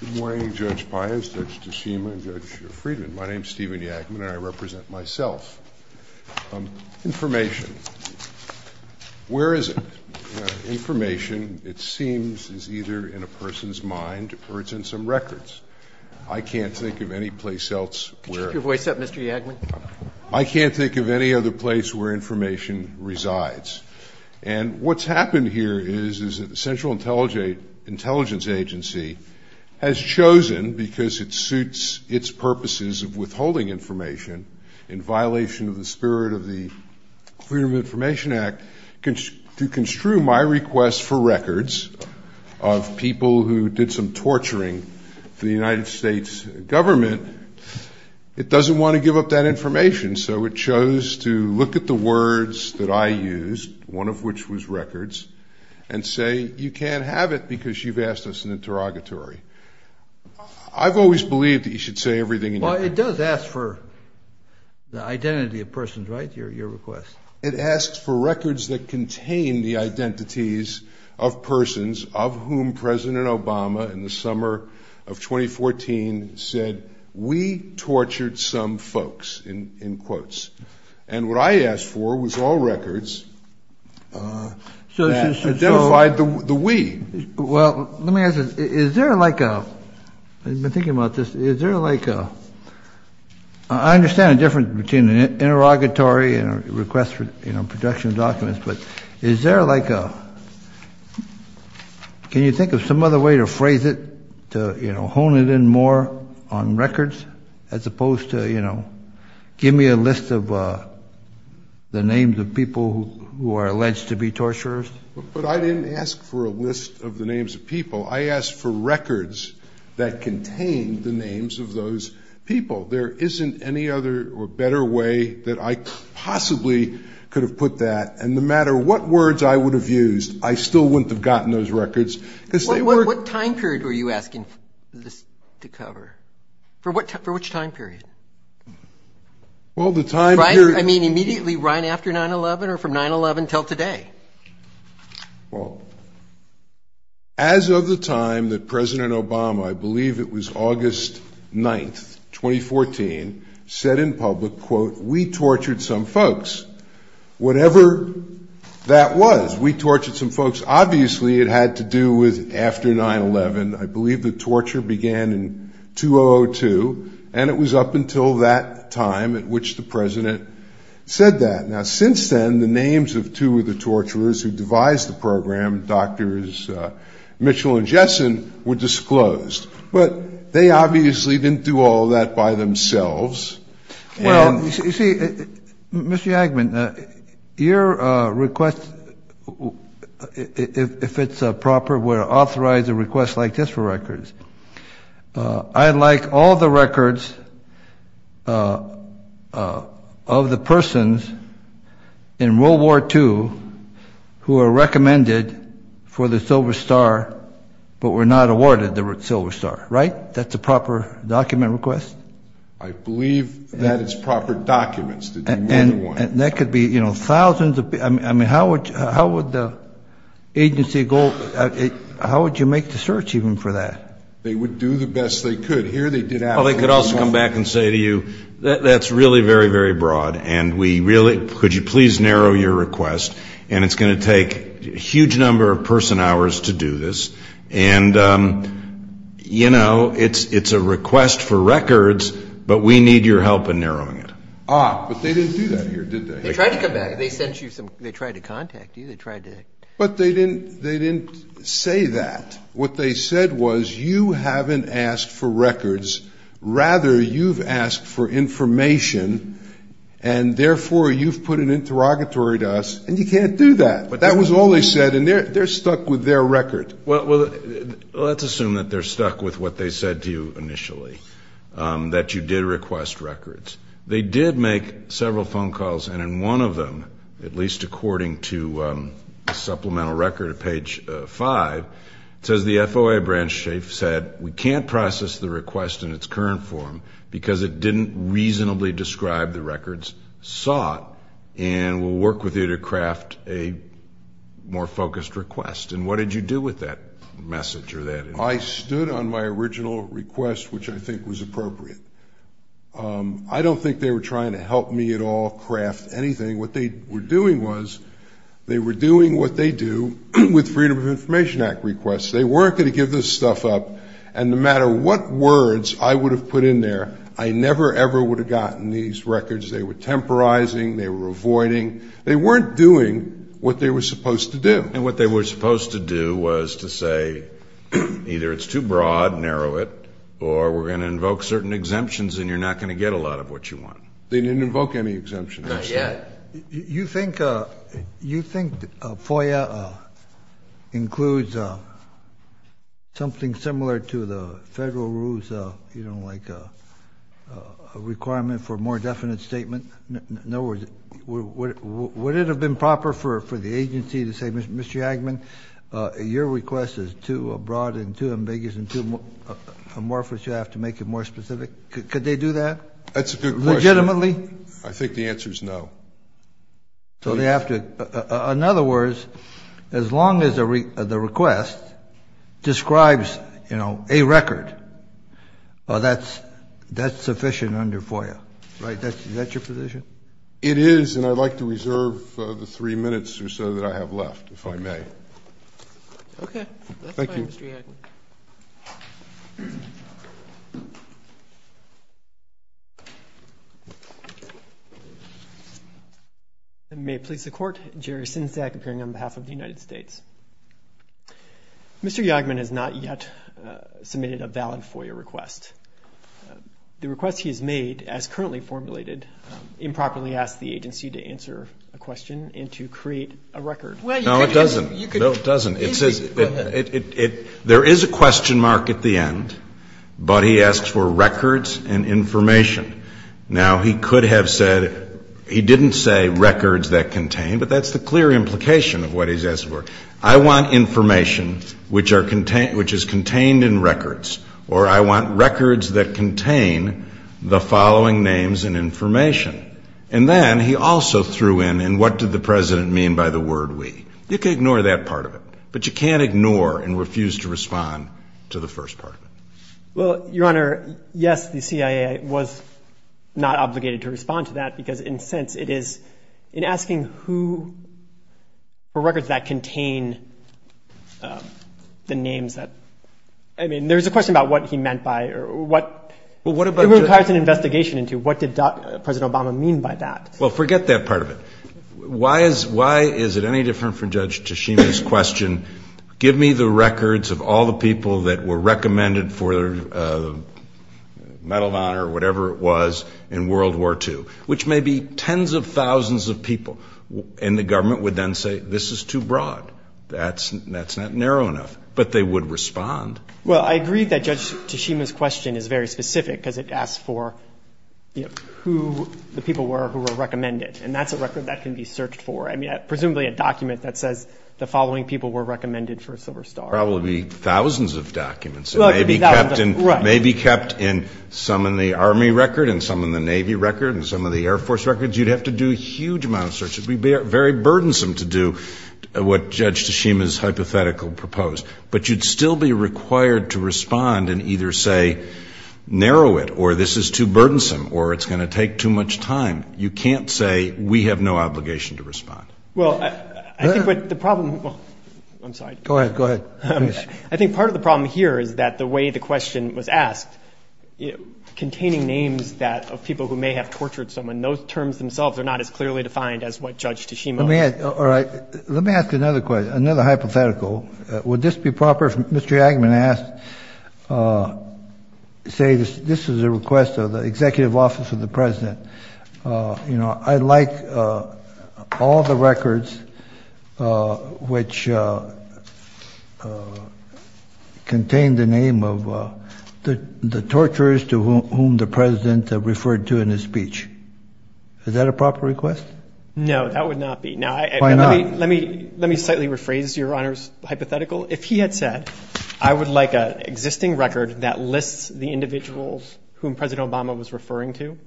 Good morning, Judge Pius, Judge DeSema, and Judge Friedman. My name is Stephen Yagman, and I represent myself. Information. Where is it? Information, it seems, is either in a person's mind or it's in some records. I can't think of any place else where it is. Could you keep your voice up, Mr. Yagman? I can't think of any other place where information resides. And what's happened here is that the Central Intelligence Agency has chosen, because it suits its purposes of withholding information in violation of the spirit of the Freedom of Information Act, to construe my request for records of people who did some torturing for the United States government. It doesn't want to give up that information, so it chose to look at the words that I used, one of which was records, and say, you can't have it because you've asked us an interrogatory. I've always believed that you should say everything. Well, it does ask for the identity of persons, right, your request? It asks for records that contain the identities of persons of whom President Obama, in the summer of 2014, said, we tortured some folks, in quotes. And what I asked for was all records that identified the we. Well, let me ask you, is there like a, I've been thinking about this, is there like a, I understand the difference between an interrogatory and a request for protection of documents, but is there like a, can you think of some other way to phrase it to, you know, hone it in more on records, as opposed to, you know, give me a list of the names of people who are alleged to be torturers? But I didn't ask for a list of the names of people. I asked for records that contained the names of those people. There isn't any other or better way that I possibly could have put that. And no matter what words I would have used, I still wouldn't have gotten those records. What time period were you asking this to cover? For which time period? Well, the time period. I mean, immediately right after 9-11 or from 9-11 until today? Well, as of the time that President Obama, I believe it was August 9th, 2014, said in public, quote, we tortured some folks, whatever that was. We tortured some folks. Obviously, it had to do with after 9-11. I believe the torture began in 2002, and it was up until that time at which the President said that. Now, since then, the names of two of the torturers who devised the program, Drs. Mitchell and Jessen, were disclosed. But they obviously didn't do all of that by themselves. Well, you see, Mr. Yagman, your request, if it's proper, would authorize a request like this for records. I'd like all the records of the persons in World War II who are recommended for the Silver Star, but were not awarded the Silver Star. Right? That's a proper document request? I believe that it's proper documents that you would want. And that could be, you know, thousands of people. I mean, how would the agency go, how would you make the search even for that? They would do the best they could. Here they did absolutely nothing. Well, they could also come back and say to you, that's really very, very broad, and we really, could you please narrow your request, and it's going to take a huge number of person hours to do this. And, you know, it's a request for records, but we need your help in narrowing it. Ah, but they didn't do that here, did they? They tried to come back. They tried to contact you. But they didn't say that. What they said was, you haven't asked for records, rather you've asked for information, and therefore you've put an interrogatory to us, and you can't do that. But that was all they said, and they're stuck with their record. Well, let's assume that they're stuck with what they said to you initially, that you did request records. They did make several phone calls, and in one of them, at least according to supplemental record at page 5, it says the FOA branch chief said we can't process the request in its current form because it didn't reasonably describe the records sought, and we'll work with you to craft a more focused request. And what did you do with that message or that information? I stood on my original request, which I think was appropriate. I don't think they were trying to help me at all craft anything. What they were doing was they were doing what they do with Freedom of Information Act requests. They weren't going to give this stuff up, and no matter what words I would have put in there, I never, ever would have gotten these records. They were temporizing. They were avoiding. They weren't doing what they were supposed to do. And what they were supposed to do was to say either it's too broad, narrow it, or we're going to invoke certain exemptions and you're not going to get a lot of what you want. They didn't invoke any exemptions. Not yet. You think FOIA includes something similar to the federal rules, you know, like a requirement for a more definite statement? In other words, would it have been proper for the agency to say, Mr. Hagman, your request is too broad and too ambiguous and too amorphous, you have to make it more specific? Could they do that? That's a good question. Legitimately? I think the answer is no. So they have to. In other words, as long as the request describes, you know, a record, that's sufficient under FOIA. Right. Is that your position? It is, and I'd like to reserve the three minutes or so that I have left, if I may. Thank you. That's fine, Mr. Hagman. May it please the Court. Jerry Sinsack, appearing on behalf of the United States. Mr. Hagman has not yet submitted a valid FOIA request. The request he has made, as currently formulated, improperly asks the agency to answer a question and to create a record. No, it doesn't. No, it doesn't. There is a question mark at the end, but he asks for records and information. Now, he could have said, he didn't say records that contain, but that's the clear implication of what he's asking for. I want information which is contained in records, or I want records that contain the following names and information. And then he also threw in, and what did the President mean by the word we? You can ignore that part of it, but you can't ignore and refuse to respond to the first part of it. Well, Your Honor, yes, the CIA was not obligated to respond to that, because in a sense it is, in asking who, for records that contain the names that, I mean, there's a question about what he meant by or what it requires an investigation into. What did President Obama mean by that? Well, forget that part of it. Why is it any different from Judge Tshishimi's question, give me the records of all the people that were recommended for the Medal of Honor, whatever it was, in World War II, which may be tens of thousands of people. And the government would then say, this is too broad. That's not narrow enough. But they would respond. Well, I agree that Judge Tshishimi's question is very specific, because it asks for who the people were who were recommended. And that's a record that can be searched for. I mean, presumably a document that says the following people were recommended for a Silver Star. Probably thousands of documents. It may be kept in some in the Army record and some in the Navy record and some of the Air Force records. You'd have to do a huge amount of searches. It would be very burdensome to do what Judge Tshishimi's hypothetical proposed. But you'd still be required to respond and either say, narrow it, or this is too burdensome, or it's going to take too much time. You can't say, we have no obligation to respond. Well, I think the problem – I'm sorry. Go ahead. I think part of the problem here is that the way the question was asked, containing names of people who may have tortured someone, those terms themselves are not as clearly defined as what Judge Tshishimi – All right. Let me ask another question, another hypothetical. Would this be proper if Mr. Eggman asked, say this is a request of the Executive Office of the President. You know, I'd like all the records which contain the name of the torturers to whom the President referred to in his speech. Is that a proper request? No, that would not be. Why not? Let me slightly rephrase Your Honor's hypothetical. If he had said, I would like an existing record that lists the individuals whom President Obama was referring to,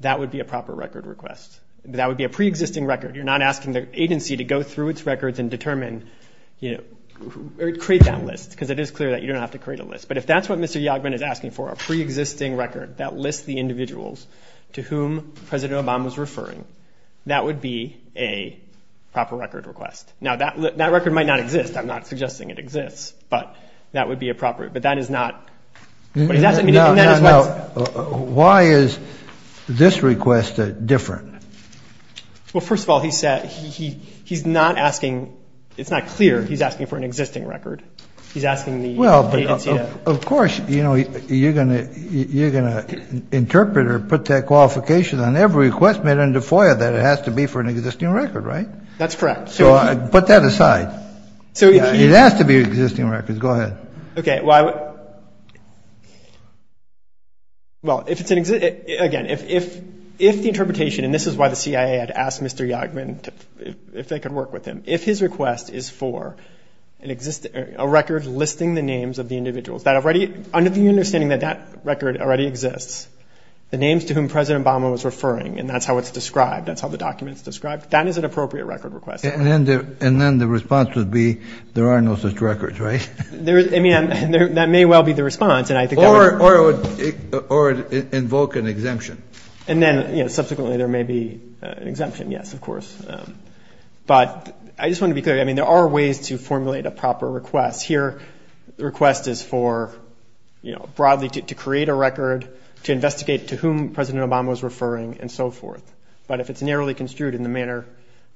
that would be a proper record request. That would be a pre-existing record. You're not asking the agency to go through its records and determine – create that list because it is clear that you don't have to create a list. But if that's what Mr. Yagben is asking for, a pre-existing record that lists the individuals to whom President Obama was referring, that would be a proper record request. Now, that record might not exist. I'm not suggesting it exists, but that would be appropriate. But that is not what he's asking. Now, why is this request different? Well, first of all, he's not asking – it's not clear he's asking for an existing record. He's asking the agency to – Well, of course, you know, you're going to interpret or put that qualification on every request made under FOIA that it has to be for an existing record, right? That's correct. So put that aside. It has to be existing records. Go ahead. Okay. Well, if it's an – again, if the interpretation – and this is why the CIA had asked Mr. Yagben if they could work with him. If his request is for a record listing the names of the individuals that already – under the understanding that that record already exists, the names to whom President Obama was referring, and that's how it's described, that's how the document's described, that is an appropriate record request. And then the response would be there are no such records, right? I mean, that may well be the response, and I think that would – Or invoke an exemption. And then, you know, subsequently there may be an exemption, yes, of course. But I just want to be clear. I mean, there are ways to formulate a proper request. Here the request is for, you know, broadly to create a record, to investigate to whom President Obama was referring, and so forth. But if it's narrowly construed in the manner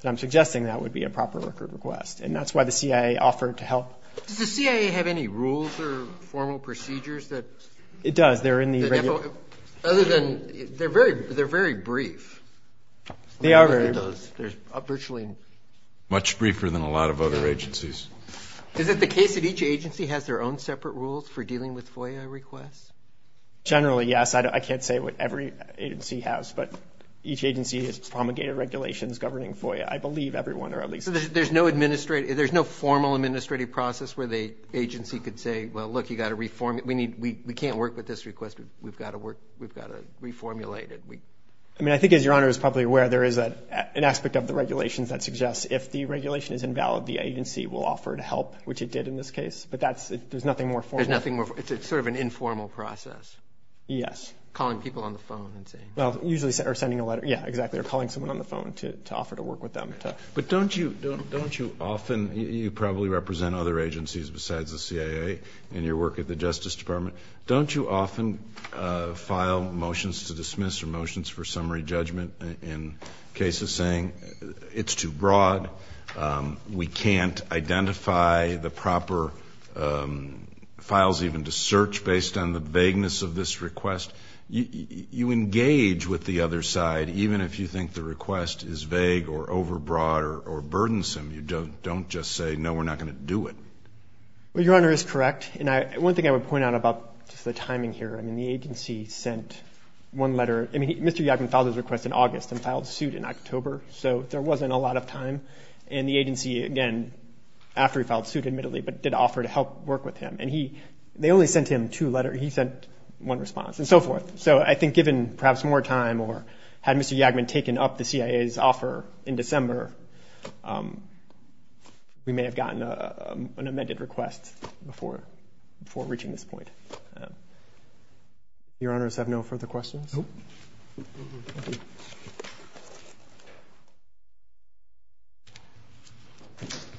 that I'm suggesting, that would be a proper record request. And that's why the CIA offered to help. Does the CIA have any rules or formal procedures that – It does. They're in the – Other than – they're very brief. They are very brief. There's virtually – Much briefer than a lot of other agencies. Is it the case that each agency has their own separate rules for dealing with FOIA requests? Generally, yes. I can't say what every agency has, but each agency has promulgated regulations governing FOIA. I believe everyone or at least – So there's no administrative – there's no formal administrative process where the agency could say, well, look, you've got to reformulate – we need – we can't work with this request. We've got to work – we've got to reformulate it. I mean, I think, as Your Honor is probably aware, there is an aspect of the regulations that suggests if the regulation is invalid, the agency will offer to help, which it did in this case. But that's – there's nothing more formal. There's nothing more – it's sort of an informal process. Yes. Calling people on the phone and saying – Well, usually – or sending a letter. Yeah, exactly, or calling someone on the phone to offer to work with them to – But don't you – don't you often – you probably represent other agencies besides the CIA in your work at the Justice Department. Don't you often file motions to dismiss or motions for summary judgment in cases saying it's too broad, we can't identify the proper files even to search based on the vagueness of this request? You engage with the other side, even if you think the request is vague or overbroad or burdensome. You don't just say, no, we're not going to do it. Well, Your Honor is correct. And one thing I would point out about the timing here, I mean, the agency sent one letter – I mean, Mr. Yakim filed his request in August and filed suit in October, so there wasn't a lot of time. And the agency, again, after he filed suit, admittedly, but did offer to help work with him. And he – they only sent him two letters. He sent one response and so forth. So I think given perhaps more time or had Mr. Yakim taken up the CIA's offer in December, we may have gotten an amended request before reaching this point. Your Honors, have no further questions? Nope.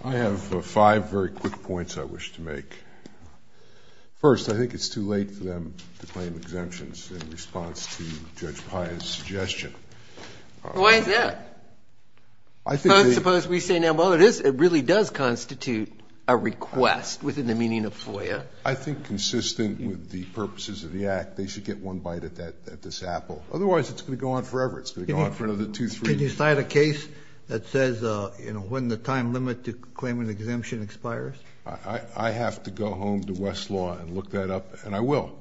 I have five very quick points I wish to make. First, I think it's too late for them to claim exemptions in response to Judge Pye's suggestion. Why is that? I think they – Suppose we say, now, well, it is – it really does constitute a request within the meaning of FOIA. I think consistent with the purposes of the Act, they should get one bite at this apple. Otherwise, it's going to go on forever. It's going to go on for another two, three years. Can you cite a case that says, you know, when the time limit to claim an exemption expires? I have to go home to Westlaw and look that up, and I will.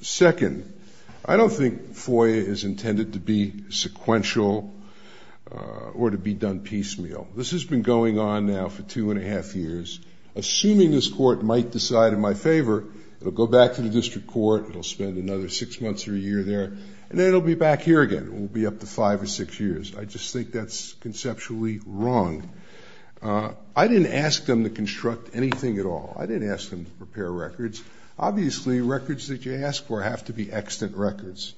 Second, I don't think FOIA is intended to be sequential or to be done piecemeal. This has been going on now for two and a half years. Assuming this Court might decide in my favor, it will go back to the district court, it will spend another six months or a year there, and then it will be back here again. It will be up to five or six years. I just think that's conceptually wrong. I didn't ask them to construct anything at all. I didn't ask them to prepare records. Obviously, records that you ask for have to be extant records.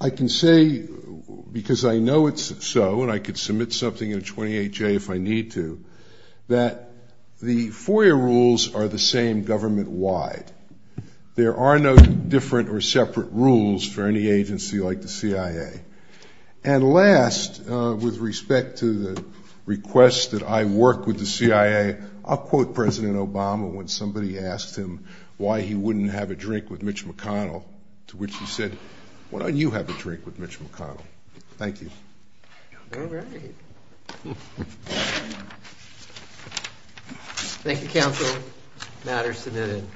I can say, because I know it's so, and I could submit something in a 28-J if I need to, that the FOIA rules are the same government-wide. There are no different or separate rules for any agency like the CIA. And last, with respect to the request that I work with the CIA, I'll quote President Obama when somebody asked him why he wouldn't have a drink with Mitch McConnell to which he said, why don't you have a drink with Mitch McConnell? Thank you. All right. Thank you, Counsel. Matters submitted.